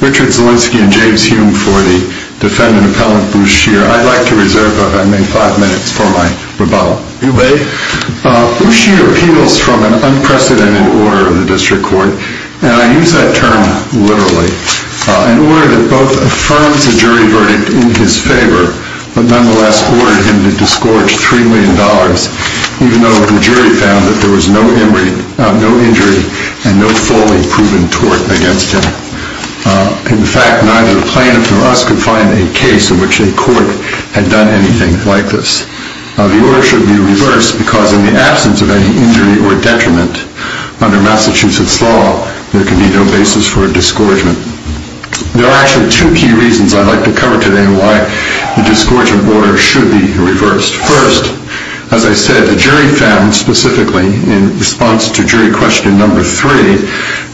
Richard Zielinski and James Hume for the Defendant Appellant Bruce Shear. I'd like to reserve if I may five minutes for my rebuttal. You may. Bruce Shear appeals from an unprecedented order of the District Court, and I use that term literally, an order that both affirms the jury verdict in his favor, but nonetheless ordered him to disgorge $3 million, even though the jury found that there was no injury and no fully proven tort against him. In fact, neither plaintiff nor us could find a case in which a court had done anything like this. The order should be reversed because in the absence of any injury or detriment under Massachusetts law, there can be no basis for a disgorgement. There are actually two key reasons I'd like to cover today on why the disgorgement order should be reversed. First, as I said, the jury found specifically in response to jury question number three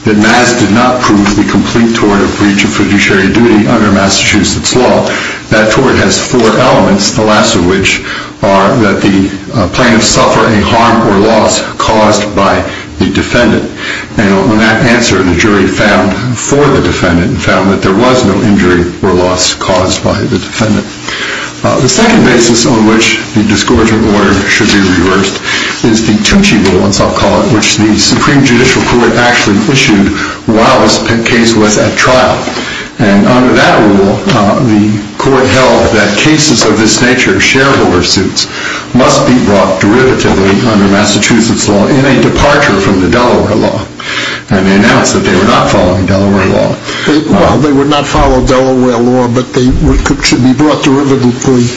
that Maz did not prove the complete tort of breach of fiduciary duty under Massachusetts law. That tort has four elements, the last of which are that the plaintiffs suffer a harm or loss caused by the defendant. And on that answer, the jury found for the defendant and found that there was no injury or loss caused by the defendant. The second basis on which the disgorgement order should be reversed is the Tucci rule, as I'll call it, which the Supreme Court held that cases of this nature, shareholder suits, must be brought derivatively under Massachusetts law in a departure from the Delaware law. And they announced that they were not following Delaware law. Well, they would not follow Delaware law, but they should be brought derivatively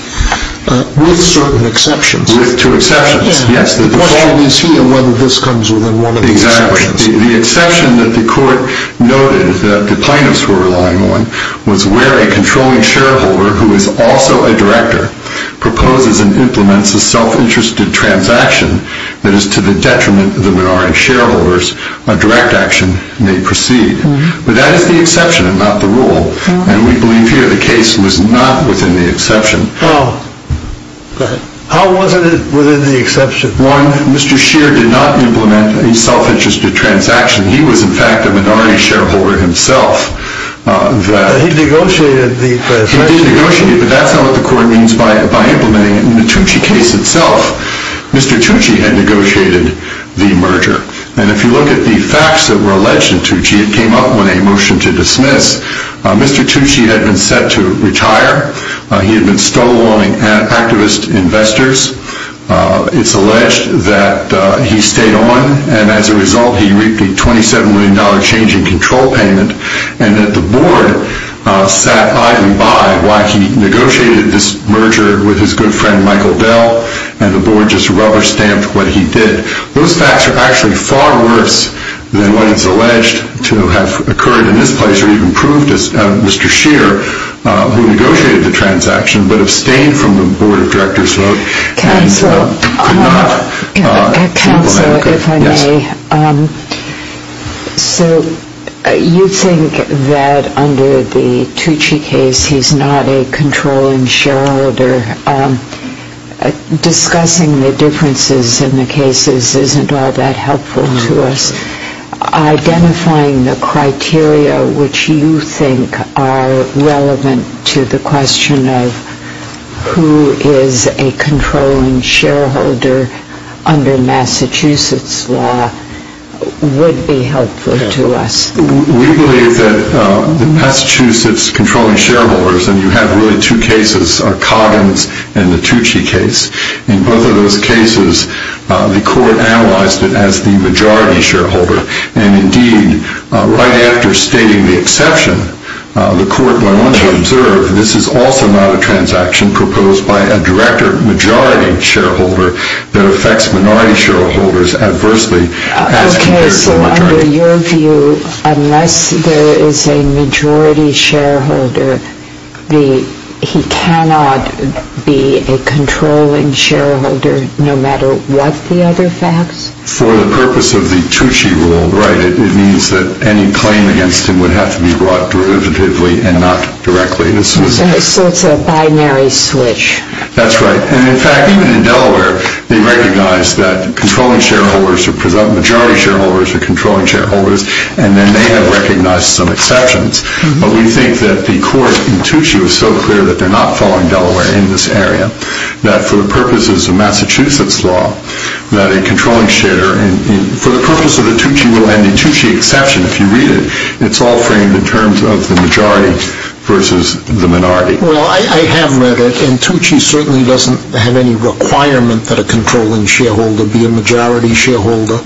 with certain exceptions. With two exceptions, yes. The question is here whether this comes within one of the exceptions. The exception that the court noted that the minority shareholder, who is also a director, proposes and implements a self-interested transaction that is to the detriment of the minority shareholders, a direct action may proceed. But that is the exception and not the rule. And we believe here the case was not within the exception. How was it within the exception? One, Mr. Scheer did not implement a self-interested transaction. He was, in fact, a minority shareholder himself. He negotiated the exception? He did negotiate, but that's not what the court means by implementing it. In the Tucci case itself, Mr. Tucci had negotiated the merger. And if you look at the facts that were alleged in Tucci, it came up when they motioned to dismiss. Mr. Tucci had been set to retire. He had been no longer an activist investor. It's alleged that he stayed on, and as a result he reaped a $27 million change in control payment, and that the board sat idly by while he negotiated this merger with his good friend Michael Dell, and the board just rubber-stamped what he did. Those facts are actually far worse than what is alleged to have occurred in this place or even Mr. Scheer, who negotiated the transaction, but abstained from the board of directors vote. Counsel, if I may. So you think that under the Tucci case, he's not a controlling shareholder. Discussing the differences in the cases isn't all that helpful to us. Identifying the criteria which you think are relevant to the question of who is a controlling shareholder under Massachusetts law would be helpful to us. We believe that the Massachusetts controlling shareholders, and you have really two cases, are Coggins and the Tucci case. In both of those cases, the court analyzed it as the majority shareholder, and indeed, right after stating the exception, the court by one's observe, this is also not a transaction proposed by a director majority shareholder that affects minority shareholders adversely. Okay, so under your view, unless there is a majority shareholder, he cannot be a controlling shareholder no matter what the other facts? For the purpose of the Tucci rule, right, it means that any claim against him would have to be brought derivatively and not directly. So it's a binary switch. That's right. And in fact, even in Delaware, they recognize that controlling shareholders are majority shareholders are controlling shareholders, and then they have recognized some exceptions. But we think that the court in Tucci was so clear that they're not following Delaware in this area, that for the purposes of Massachusetts law, that a controlling shareholder, for the purpose of the Tucci rule, any Tucci exception, if you read it, it's all framed in terms of the majority versus the minority. Well, I have read it, and Tucci certainly doesn't have any requirement that a controlling shareholder be a majority shareholder.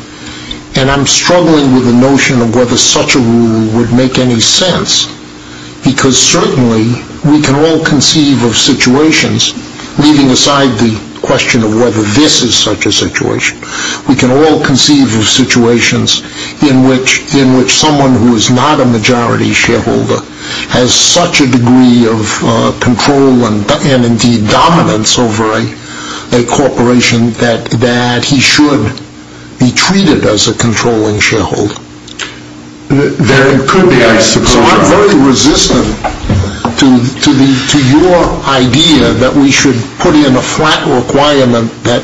And I'm struggling with the notion of whether such a rule would make any sense, because certainly we can all conceive of situations, leaving aside the question of whether this is such a situation, we can all conceive of situations in which someone who is not a majority shareholder has such a degree of control and indeed dominance over a corporation that he should be treated as a controlling shareholder. There could be, I suppose. So I'm very resistant to your idea that we should put in a flat requirement that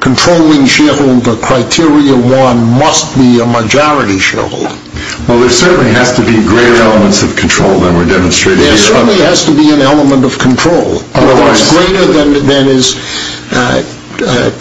controlling shareholder criteria one must be a majority shareholder. Well, there certainly has to be greater elements of control than we're demonstrating here. There certainly has to be an element of control. Otherwise. Greater than is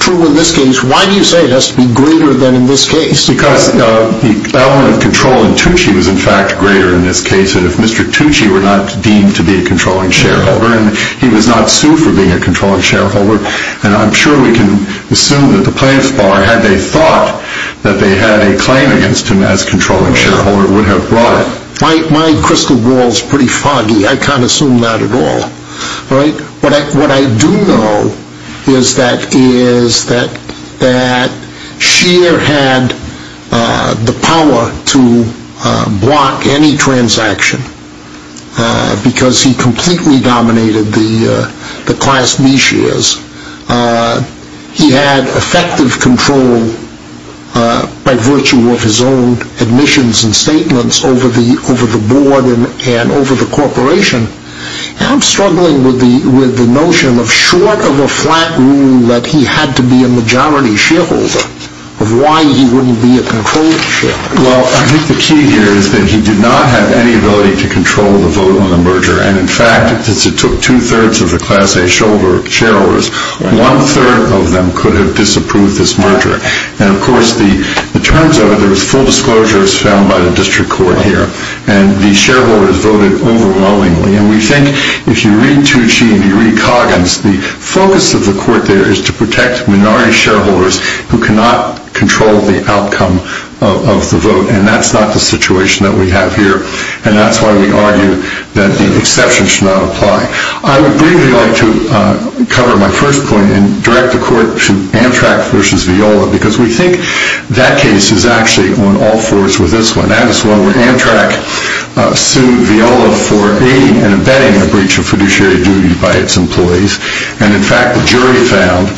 true in this case. Why do you say it has to be greater than in this case? Because the element of control in Tucci was in fact greater in this case. And if Mr. Tucci were not deemed to be a controlling shareholder, and he was not sued for being a controlling shareholder, and I'm sure we can assume that the plaintiff bar, had they thought that they had a claim against him as controlling shareholder, would have brought it. My crystal ball is pretty foggy. I can't assume that at all. What I do know is that Scheer had the power to block any transaction because he completely dominated the class B shares. He had effective control by virtue of his own admissions and statements over the board and over the corporation. And I'm struggling with the notion of short of a flat rule that he had to be a majority shareholder of why he wouldn't be a controlling shareholder. Well, I think the key here is that he did not have any ability to control the vote on the merger. And in fact, since it took two-thirds of the class A shareholders, one-third of them could have disapproved this merger. And of course, the terms of it, there was full disclosures found by the district court here. And the shareholders voted overwhelmingly. And we think if you read Tucci and you read Coggins, the focus of the court there is to protect minority shareholders who cannot control the outcome of the vote. And that's not the situation that we have here. And that's why we argue that the exception should not apply. I would briefly like to cover my first point and direct the court to Amtrak versus Viola because we think that case is actually on all fours with this one. That is one where Amtrak sued Viola for aiding and abetting a breach of fiduciary duty by its employees. And in fact, the jury found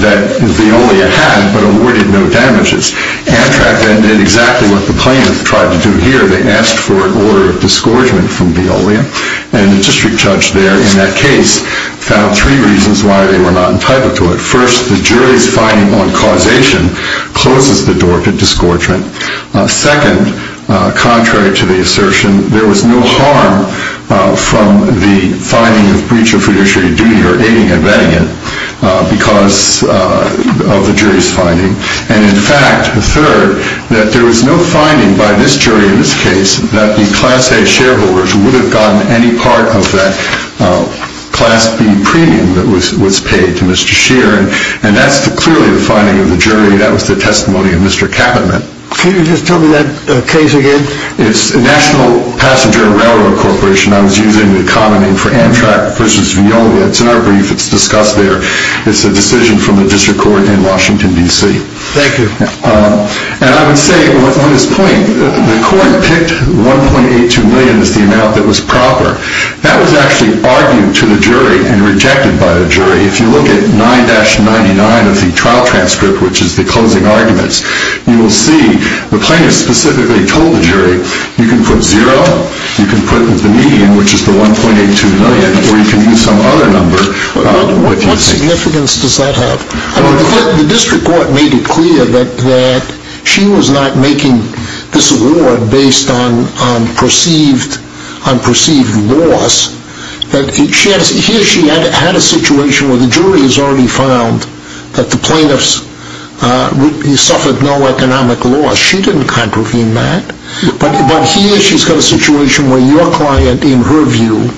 that Viola had but awarded no damages. Amtrak then did exactly what the plaintiffs tried to do here. They asked for an order of disgorgement from Viola. And the district judge there in that case found three reasons why they were not entitled to it. First, the jury's finding on causation closes the door to disgorgement. Second, contrary to the assertion, there was no harm from the finding of breach of fiduciary duty or aiding and abetting it because of the jury's finding. And in fact, the third, that there was no finding by this jury in this case that the Class A shareholders would have gotten any part of that Class B premium that was paid to Mr. Scheer. That was the testimony of Mr. Kappenman. Can you just tell me that case again? It's National Passenger Railroad Corporation. I was using the common name for Amtrak versus Viola. It's in our brief. It's discussed there. It's a decision from the district court in Washington, D.C. Thank you. And I would say on this point, the court picked $1.82 million as the amount that was proper. That was actually argued to the jury and rejected by the jury. If you look at 9-99 of the trial transcript, which is the closing arguments, you will see the plaintiff specifically told the jury, you can put zero, you can put the median, which is the $1.82 million, or you can use some other number. What significance does that have? The district court made it clear that she was not making this award based on perceived loss. Here she had a situation where the jury has already found that the plaintiff suffered no economic loss. She didn't contravene that. But here she's got a situation where your client, in her view,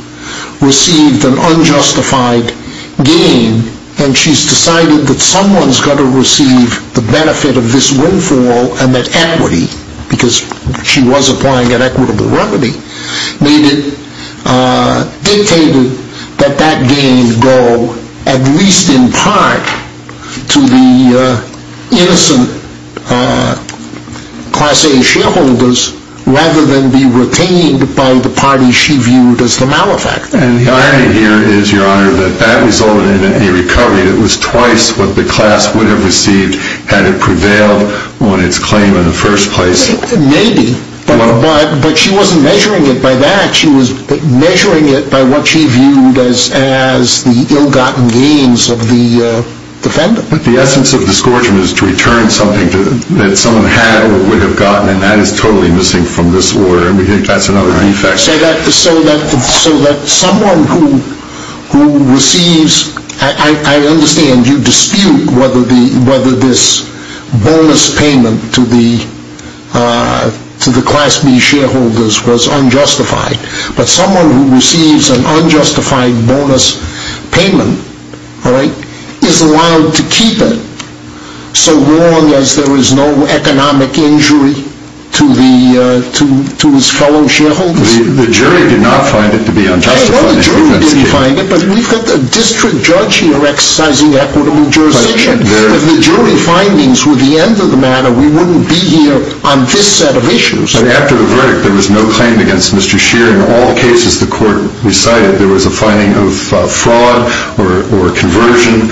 received an unjustified gain, and she's decided that someone's got to receive the benefit of this windfall and that equity, because she was applying an equitable remedy, made it dictated that that gain go, at least in part, to the innocent Class A shareholders, rather than be retained by the parties she viewed as the malefactors. And the irony here is, Your Honor, that that resulted in a recovery that was twice what the class would have received had it prevailed on its claim in the first place. Maybe. But she wasn't measuring it by that. She was measuring it by what she viewed as the ill-gotten gains of the defendant. But the essence of disgorgement is to return something that someone had or would have gotten, and that is totally missing from this order. That's another defect. So that someone who receives... I understand you dispute whether this bonus payment to the Class B shareholders was unjustified, but someone who receives an unjustified bonus payment is allowed to keep it so long as there is no economic injury to his fellow shareholders? The jury did not find it to be unjustified. Well, the jury didn't find it, but we've got a district judge here exercising equitable jurisdiction. If the jury findings were the end of the matter, we wouldn't be here on this set of issues. After the verdict, there was no claim against Mr. Scheer. In all the cases the Court recited, there was a finding of fraud or conversion,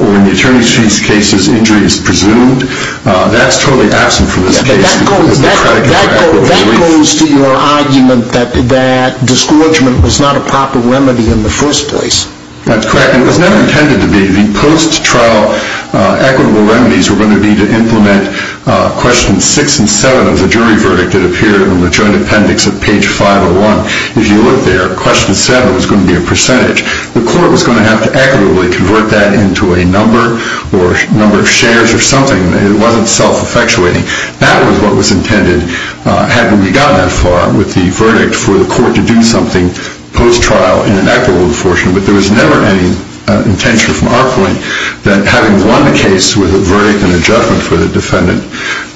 or in the attorney's case, injuries presumed. That's totally absent from this case. That goes to your argument that disgorgement was not a proper remedy in the first place. That's correct. It was never intended to be. The post-trial equitable remedies were going to be to implement questions 6 and 7 of the jury verdict that appeared in the joint appendix of page 501. If you look there, question 7 was going to be a percentage. The Court was going to have to equitably convert that into a number or number of shares or something. It wasn't self-effectuating. That was what was intended, had we gotten that far with the verdict, for the Court to do something post-trial in an equitable enforcement. But there was never any intention, from our point, that having won the case with a verdict and a judgment for the defendant,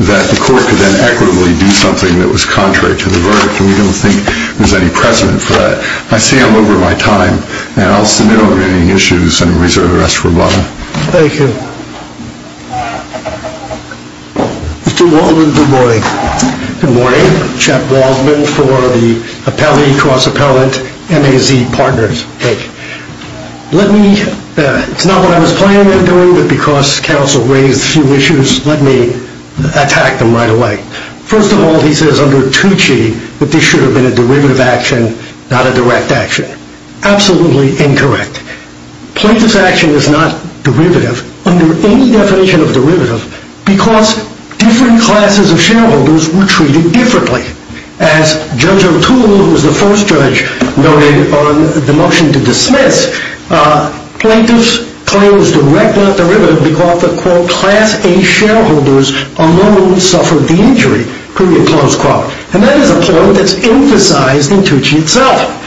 that the Court could then equitably do something that was contrary to the verdict. We don't think there's any precedent for that. I see I'm over my time. I'll submit all remaining issues and reserve the rest for Bob. Thank you. Mr. Waldman, good morning. Good morning. Jeff Waldman for the Cross Appellate MAZ Partners. It's not what I was planning on doing, but because counsel raised a few issues, let me attack them right away. First of all, he says under 2G that this should have been a derivative action, not a direct action. Absolutely incorrect. Plaintiff's action is not derivative, under any definition of derivative, because different classes of shareholders were treated differently. As Judge O'Toole, who was the first judge, noted on the motion to dismiss, plaintiff's claim is directly derivative because the, quote, class A shareholders alone suffered the injury, period, close quote. And that is a point that's emphasized in 2G itself.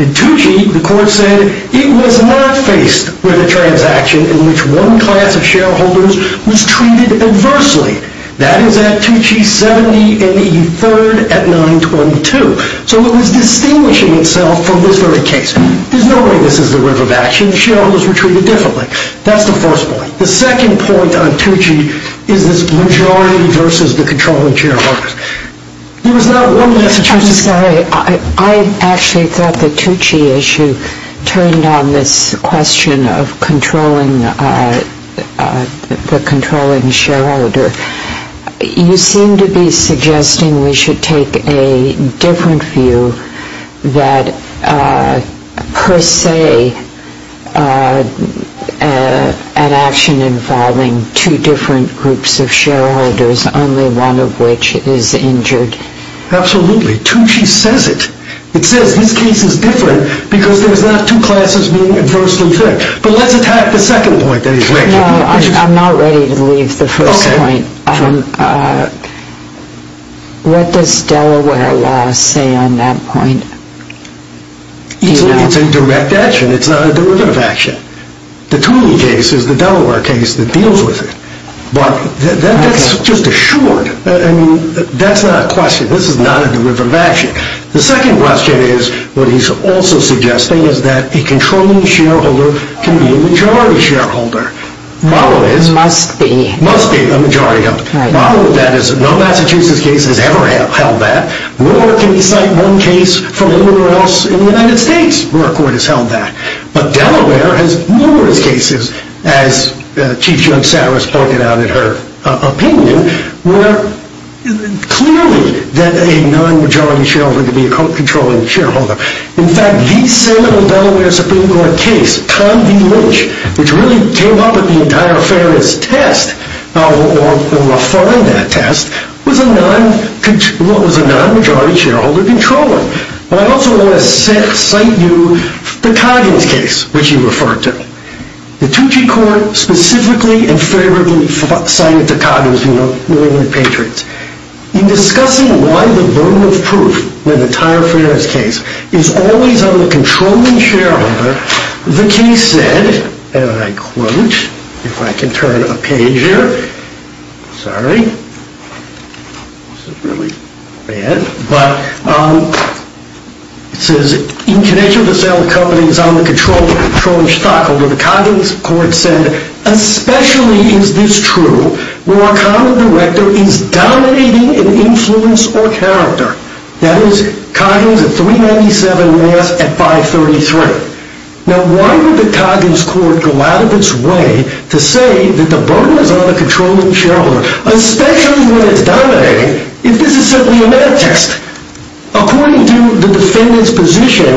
In 2G, the court said it was not faced with a transaction in which one class of shareholders was treated adversely. That is at 2G70 and E3 at 922. So it was distinguishing itself from this very case. There's no way this is a derivative action. Shareholders were treated differently. That's the first point. The second point on 2G is this majority versus the controlling shareholders. There was one last question. I'm sorry. I actually thought the 2G issue turned on this question of controlling, the controlling shareholder. You seem to be suggesting we should take a different view that per se an action involving two different groups of shareholders, only one of which is injured. Absolutely. 2G says it. It says this case is different because there's not two classes being adversely affected. But let's attack the second point that he's making. No, I'm not ready to leave the first point. What does Delaware law say on that point? It's a direct action. It's not a derivative action. The Toomey case is the Delaware case that deals with it. That's just assured. That's not a question. This is not a derivative action. The second question is what he's also suggesting is that a controlling shareholder can be a majority shareholder. Must be. Must be a majority. No Massachusetts case has ever held that. Nor can we cite one case from anywhere else in the United States where a court has held that. But Delaware has numerous cases, as Chief Judge Sarris pointed out in her opinion, where clearly that a non-majority shareholder can be a controlling shareholder. In fact, the Senate and Delaware Supreme Court case, Tom V. Lynch, which really came up with the entire fairness test, or refined that test, was a non-majority shareholder controller. I also want to cite you the Coggins case, which you referred to. The Tucci Court specifically and favorably cited the Coggins case. In discussing why the burden of proof in the entire fairness case is always on the controlling shareholder, the case said, and I quote, if I can turn a page here, sorry, this is really bad, but it says, in connection with the sale of companies on the controlling stockholder, the Coggins court said, especially is this true where a common director is dominating an influence or character. That is, Coggins at 397 Mass at 533. Now why would the Coggins court go out of its way to say that the burden is on the controlling shareholder, especially when it's dominating, if this is simply a math test. According to the defendant's position,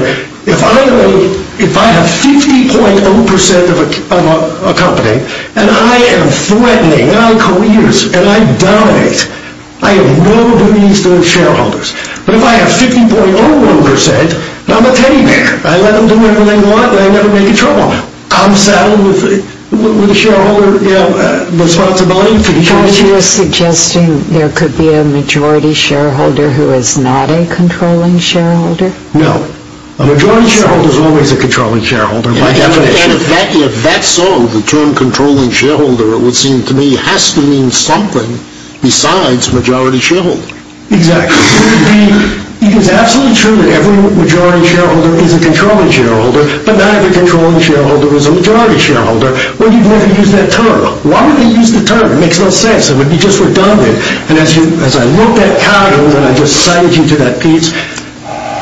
if I have 50.0% of a company, and I am threatening my careers, and I dominate, I have no duties to the shareholders. But if I have 50.0%, I'm a teddy bear. I let them do whatever they want, and I never make a trouble. I'm saddled with the shareholder responsibility. Are you suggesting there could be a majority shareholder who is not a controlling shareholder? No. A majority shareholder is always a controlling shareholder by definition. And if that's so, the term controlling shareholder, it would seem to me, has to mean something besides majority shareholder. Exactly. It is absolutely true that every majority shareholder is a controlling shareholder, but not every controlling shareholder is a majority shareholder, when you've never used that term. Why would they use the term? It makes no sense. It would be just redundant. And as I looked at Coggins, and I just cited you to that piece,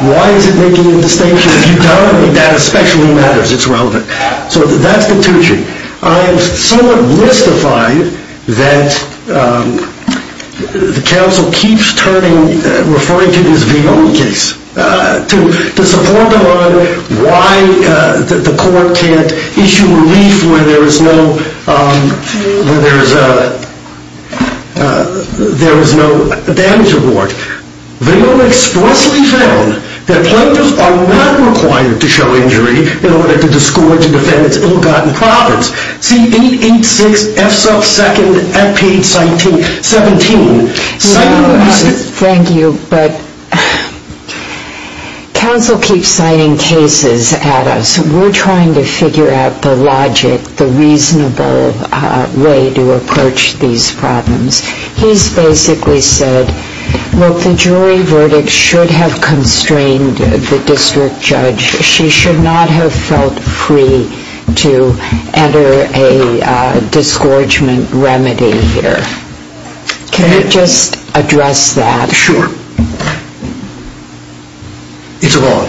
why is it making a distinction? If you don't, that especially matters. It's relevant. So that's the two-chee. I'm somewhat mystified that the counsel keeps referring to this V-O case to support him on why the court can't issue relief where there is no damage award. V-O expressly found that plaintiffs are not required to show injury in order to discourage and defend its ill-gotten profits. C-886-F2 at page 17. Thank you, but counsel keeps signing cases at us. We're trying to figure out the logic, the reasonable way to approach these problems. He's basically said, look, the jury verdict should have constrained the district judge. She should not have felt free to enter a disgorgement remedy here. Can you just address that? Sure. It's wrong.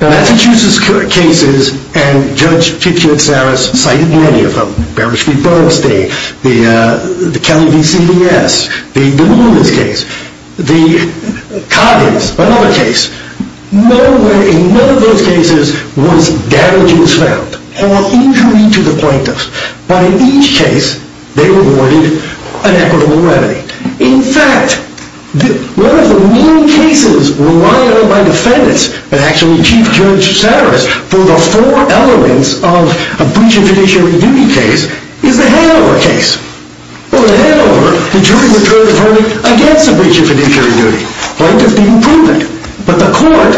Massachusetts cases, and Judge Kitsaris cited many of them, Beresford-Berlstein, the Kelly v. CBS, the DeLuna's case, the Coggins, another case. Nowhere in none of those cases was damage was found or injury to the plaintiffs. But in each case, they were awarded an equitable remedy. In fact, one of the main cases relying on my defendants, but actually Chief Judge Kitsaris, for the four elements of a breach of fiduciary duty case, is the Hanover case. Over at Hanover, the jury returned a verdict against a breach of fiduciary duty. Plaintiffs didn't prove it. But the court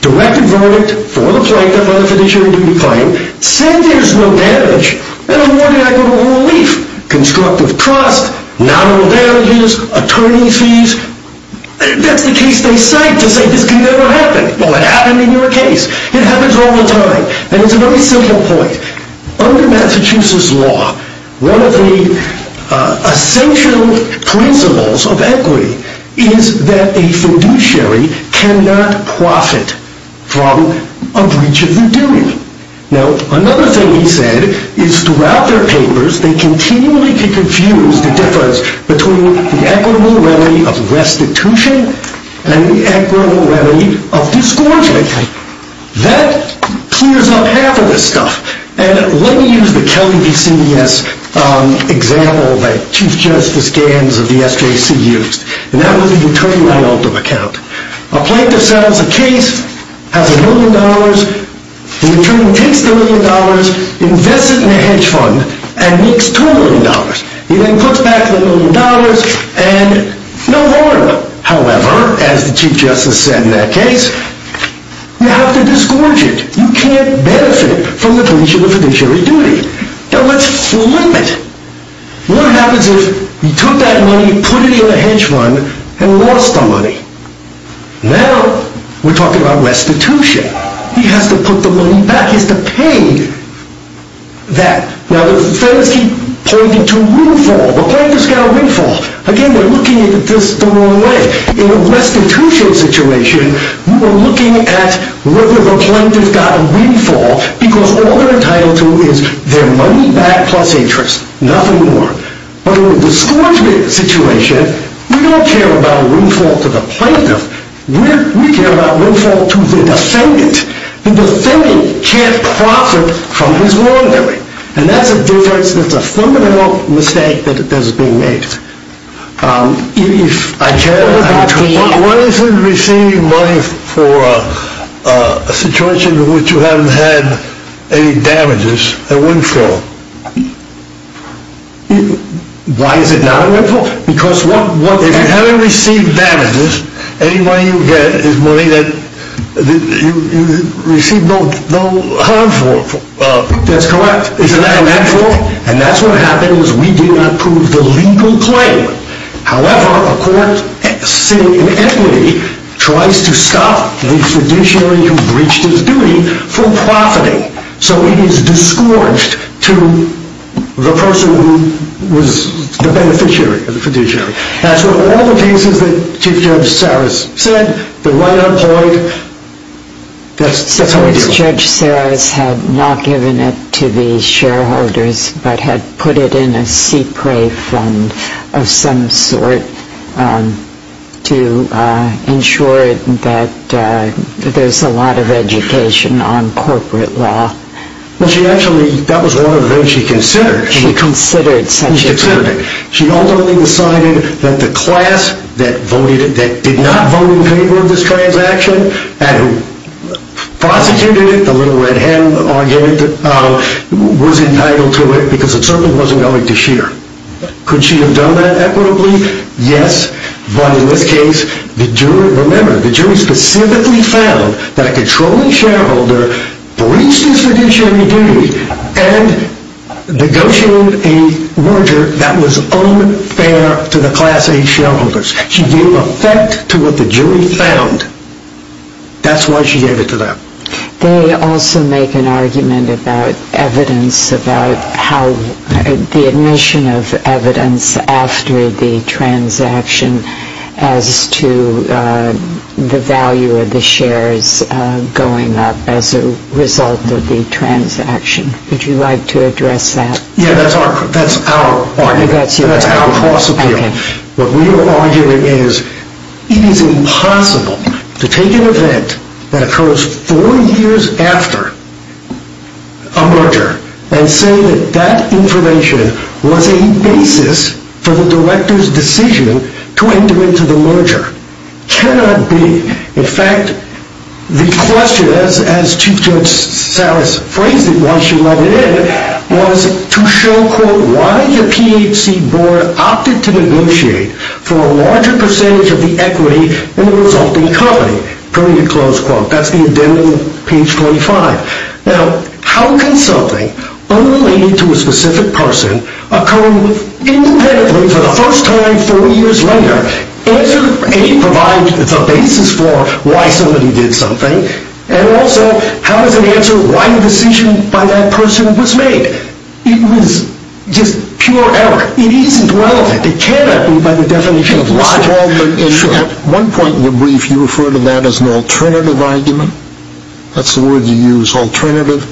directed verdict for the plaintiff on a fiduciary duty claim, said there's no damage, and awarded equitable relief. Constructive trust, nominal values, attorney fees. That's the case they cite to say this could never happen. Well, it happened in your case. It happens all the time. And it's a very simple point. Under Massachusetts law, one of the essential principles of equity is that a fiduciary cannot profit from a breach of their duty. Now, another thing he said is throughout their papers, they continually could confuse the difference between the equitable remedy of restitution and the equitable remedy of disgorgement. That clears up half of this stuff. And let me use the Kelly v. CBS example that Chief Justice Gans of the SJC used. And that was the attorney by ultimate account. A plaintiff settles a case, has a million dollars. The attorney takes the million dollars, invests it in a hedge fund, and makes two million dollars. He then puts back the million dollars, and no harm. However, as the Chief Justice said in that case, you have to disgorge it. You can't benefit from the breach of a fiduciary duty. Now, let's flip it. What happens if you took that money, put it in a hedge fund, and lost the money? Now, we're talking about restitution. He has to put the money back. He has to pay that. Now, the feds keep pointing to windfall. The plaintiff's got a windfall. Again, we're looking at this the wrong way. In a restitution situation, we're looking at whether the plaintiff got a windfall, because all they're entitled to is their money back plus interest. Nothing more. But in a disgorgement situation, we don't care about windfall to the plaintiff. We care about windfall to the defendant. The defendant can't profit from his wrongdoing. And that's a fundamental mistake that is being made. What if you receive money for a situation in which you haven't had any damages, a windfall? Why is it not a windfall? If you haven't received damages, any money you get is money that you received no harm for. That's correct. Isn't that a windfall? And that's what happens. We do not prove the legal claim. However, a court sitting in equity tries to stop the fiduciary who breached his duty from profiting. So he is disgorged to the person who was the beneficiary or the fiduciary. That's what all the cases that Chief Judge Saras said. They're right on point. That's how we deal with it. Chief Judge Saras had not given it to the shareholders, but had put it in a CPRA fund of some sort to ensure that there's a lot of education on corporate law. That was one of the things she considered. She considered such a thing. She ultimately decided that the class that did not vote in favor of this transaction and who prosecuted it, the Little Red Hen argument, was entitled to it because it certainly wasn't going to sheer. Could she have done that equitably? Yes, but in this case, remember, the jury specifically found that a controlling shareholder breached his fiduciary duty and negotiated a merger that was unfair to the Class A shareholders. She gave effect to what the jury found. That's why she gave it to them. They also make an argument about evidence about how the admission of evidence after the transaction as to the value of the shares going up as a result of the transaction. Would you like to address that? Yes, that's our argument. That's your argument? That's our possibility. Okay. What we are arguing is it is impossible to take an event that occurs four years after a merger and say that that information was a basis for the director's decision to enter into the merger. It cannot be. In fact, the question, as Chief Judge Salas phrased it when she let it in, was to show why the PHC board opted to negotiate for a larger percentage of the equity in the resulting company. That's the identity on page 25. Now, how can something unrelated to a specific person occur independently for the first time four years later? Answer A provides the basis for why somebody did something. And also, how does it answer why the decision by that person was made? It was just pure error. It isn't relevant. It cannot be by the definition of logic. Mr. Baldwin, at one point in the brief you referred to that as an alternative argument. That's the word you used, alternative.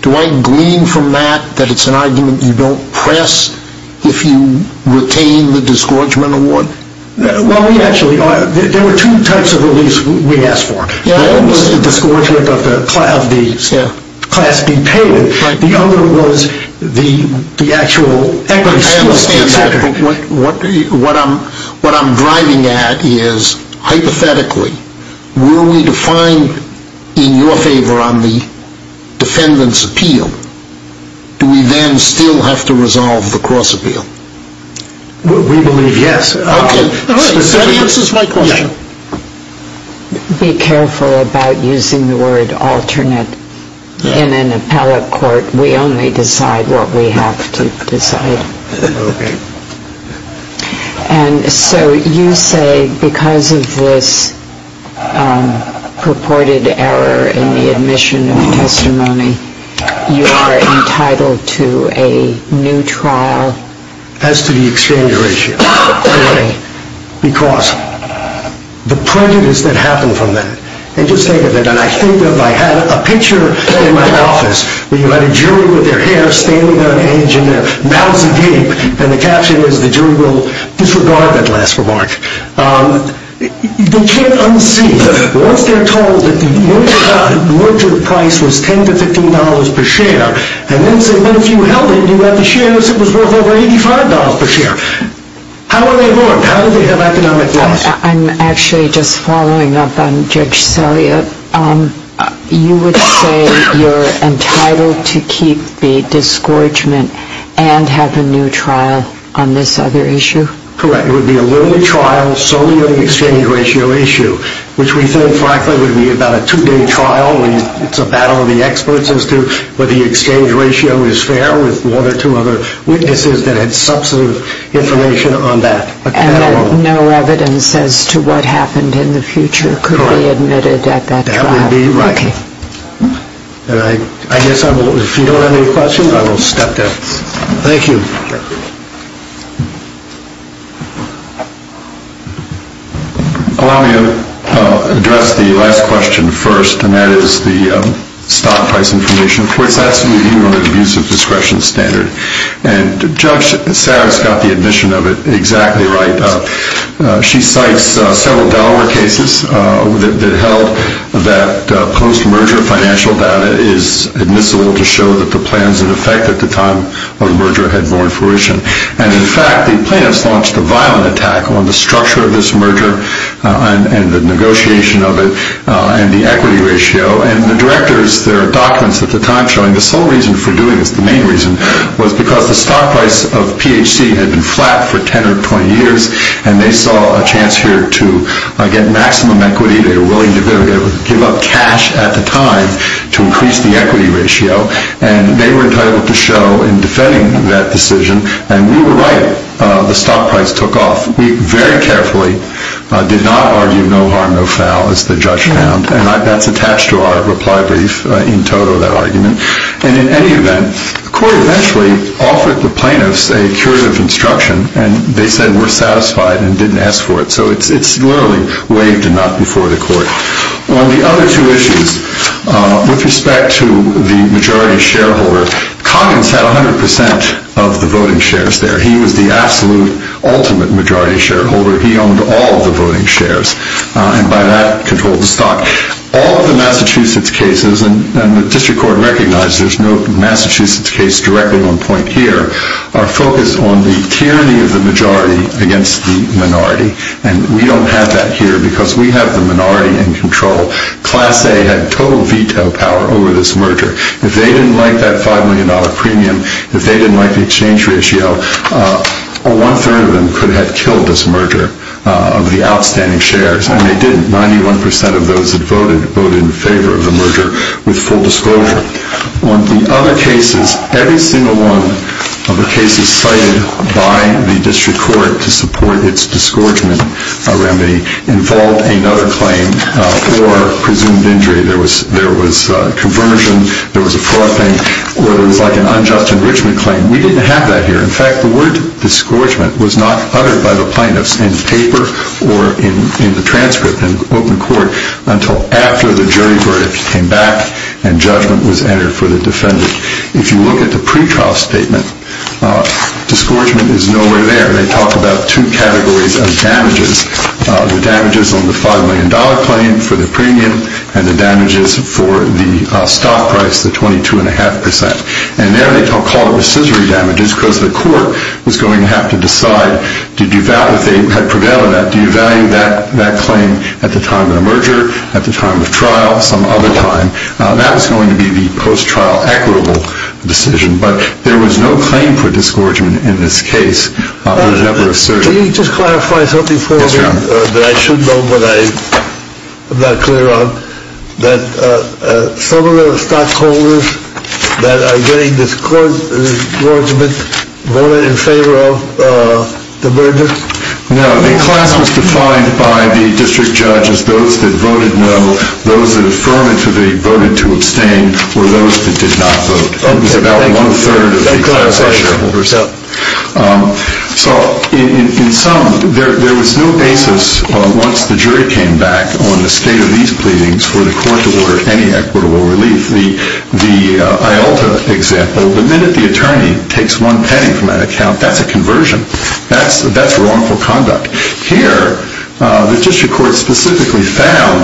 Do I glean from that that it's an argument you don't press if you retain the disgorgement award? Well, we actually are. There were two types of reliefs we asked for. One was the disgorgement of the class being paid. The other was the actual equity. What I'm driving at is, hypothetically, were we to find in your favor on the defendant's appeal, do we then still have to resolve the cross-appeal? We believe yes. Okay, so that answers my question. Be careful about using the word alternate in an appellate court. We only decide what we have to decide. Okay. And so you say because of this purported error in the admission of testimony, you are entitled to a new trial. As to the exchange ratio. Because the prejudice that happened from that, and just think of it, and I think of, I had a picture in my office, where you had a jury with their hair standing on edge in their mouths agape, and the caption was, the jury will disregard that last remark. They can't unsee, once they're told that the merger price was $10 to $15 per share, and then say, but if you held it, you had the shares, it was worth over $85 per share. How are they wrong? How do they have economic loss? I'm actually just following up on Judge Selliot. You would say you're entitled to keep the discouragement and have a new trial on this other issue? Correct. It would be a lonely trial solely on the exchange ratio issue, which we think frankly would be about a two-day trial, where it's a battle of the experts as to whether the exchange ratio is fair with one or two other witnesses that had substantive information on that. And that no evidence as to what happened in the future could be admitted at that trial? Correct. That would be right. Okay. And I guess I will, if you don't have any questions, I will stop there. Thank you. Allow me to address the last question first, and that is the stock price information. The court's absolute view on the abuse of discretion standard. And Judge Sarris got the admission of it exactly right. She cites several Delaware cases that held that post-merger financial data is admissible to show that the plans in effect at the time of the merger had borne fruition. And in fact, the plaintiffs launched a violent attack on the structure of this merger and the negotiation of it and the equity ratio. And the directors, their documents at the time showing the sole reason for doing this, the main reason, was because the stock price of PHC had been flat for 10 or 20 years. And they saw a chance here to get maximum equity. They were willing to give up cash at the time to increase the equity ratio. And they were entitled to show in defending that decision. And we were right. The stock price took off. We very carefully did not argue no harm, no foul, as the judge found. And that's attached to our reply brief in total, that argument. And in any event, the court eventually offered the plaintiffs a curative instruction. And they said we're satisfied and didn't ask for it. So it's literally waived and not before the court. On the other two issues, with respect to the majority shareholder, Coggins had 100% of the voting shares there. He was the absolute, ultimate majority shareholder. He owned all of the voting shares. And by that, controlled the stock. All of the Massachusetts cases, and the district court recognized there's no Massachusetts case directly on point here, are focused on the tyranny of the majority against the minority. And we don't have that here because we have the minority in control. Class A had total veto power over this merger. If they didn't like that $5 million premium, if they didn't like the exchange ratio, one third of them could have killed this merger of the outstanding shares. And they didn't. 91% of those that voted, voted in favor of the merger with full disclosure. On the other cases, every single one of the cases cited by the district court to support its disgorgement remedy involved another claim for presumed injury. There was conversion, there was a fraud claim, or it was like an unjust enrichment claim. We didn't have that here. In fact, the word disgorgement was not uttered by the plaintiffs in paper or in the transcript in open court until after the jury verdict came back and judgment was entered for the defendant. If you look at the pretrial statement, disgorgement is nowhere there. They talk about two categories of damages. The damages on the $5 million claim for the premium, and the damages for the stock price, the 22.5%. And there they call it recessory damages because the court was going to have to decide, if they had prevailed on that, do you value that claim at the time of the merger, at the time of trial, some other time. That was going to be the post-trial equitable decision. But there was no claim for disgorgement in this case. It was never asserted. Can you just clarify something for me that I should know but I'm not clear on? That some of the stockholders that are getting disgorgement voted in favor of the merger? No, the class was defined by the district judges. Those that voted no, those that affirmatively voted to abstain, were those that did not vote. It was about one-third of the class. So in sum, there was no basis, once the jury came back, on the state of these pleadings for the court to order any equitable relief. The IALTA example, the minute the attorney takes one penny from that account, that's a conversion. That's wrongful conduct. Here, the district court specifically found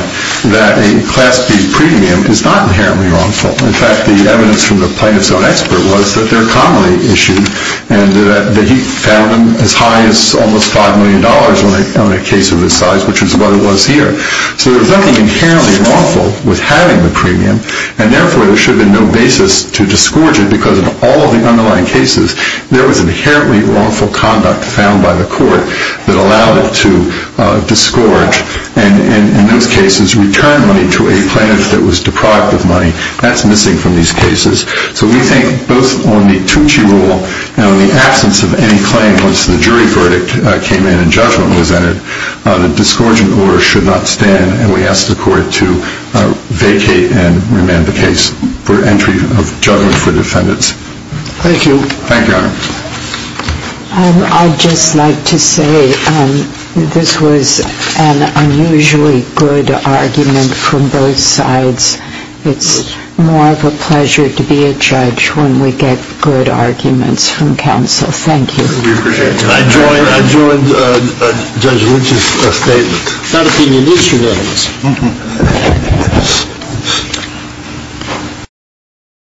that a class B premium is not inherently wrongful. In fact, the evidence from the plaintiff's own expert was that they're commonly issued, and that he found them as high as almost $5 million on a case of this size, which is what it was here. So there was nothing inherently wrongful with having the premium, and therefore there should have been no basis to disgorge it because in all of the underlying cases, there was inherently wrongful conduct found by the court that allowed it to disgorge, and in those cases, return money to a plaintiff that was deprived of money. That's missing from these cases. So we think both on the Tucci rule and on the absence of any claim once the jury verdict came in and judgment was entered, the disgorging order should not stand, and we ask the court to vacate and remand the case for entry of judgment for defendants. Thank you. Thank you, Your Honor. I'd just like to say this was an unusually good argument from both sides. It's more of a pleasure to be a judge when we get good arguments from counsel. Thank you. We appreciate it. I join Judge Luce's statement. Thank you, Your Honor.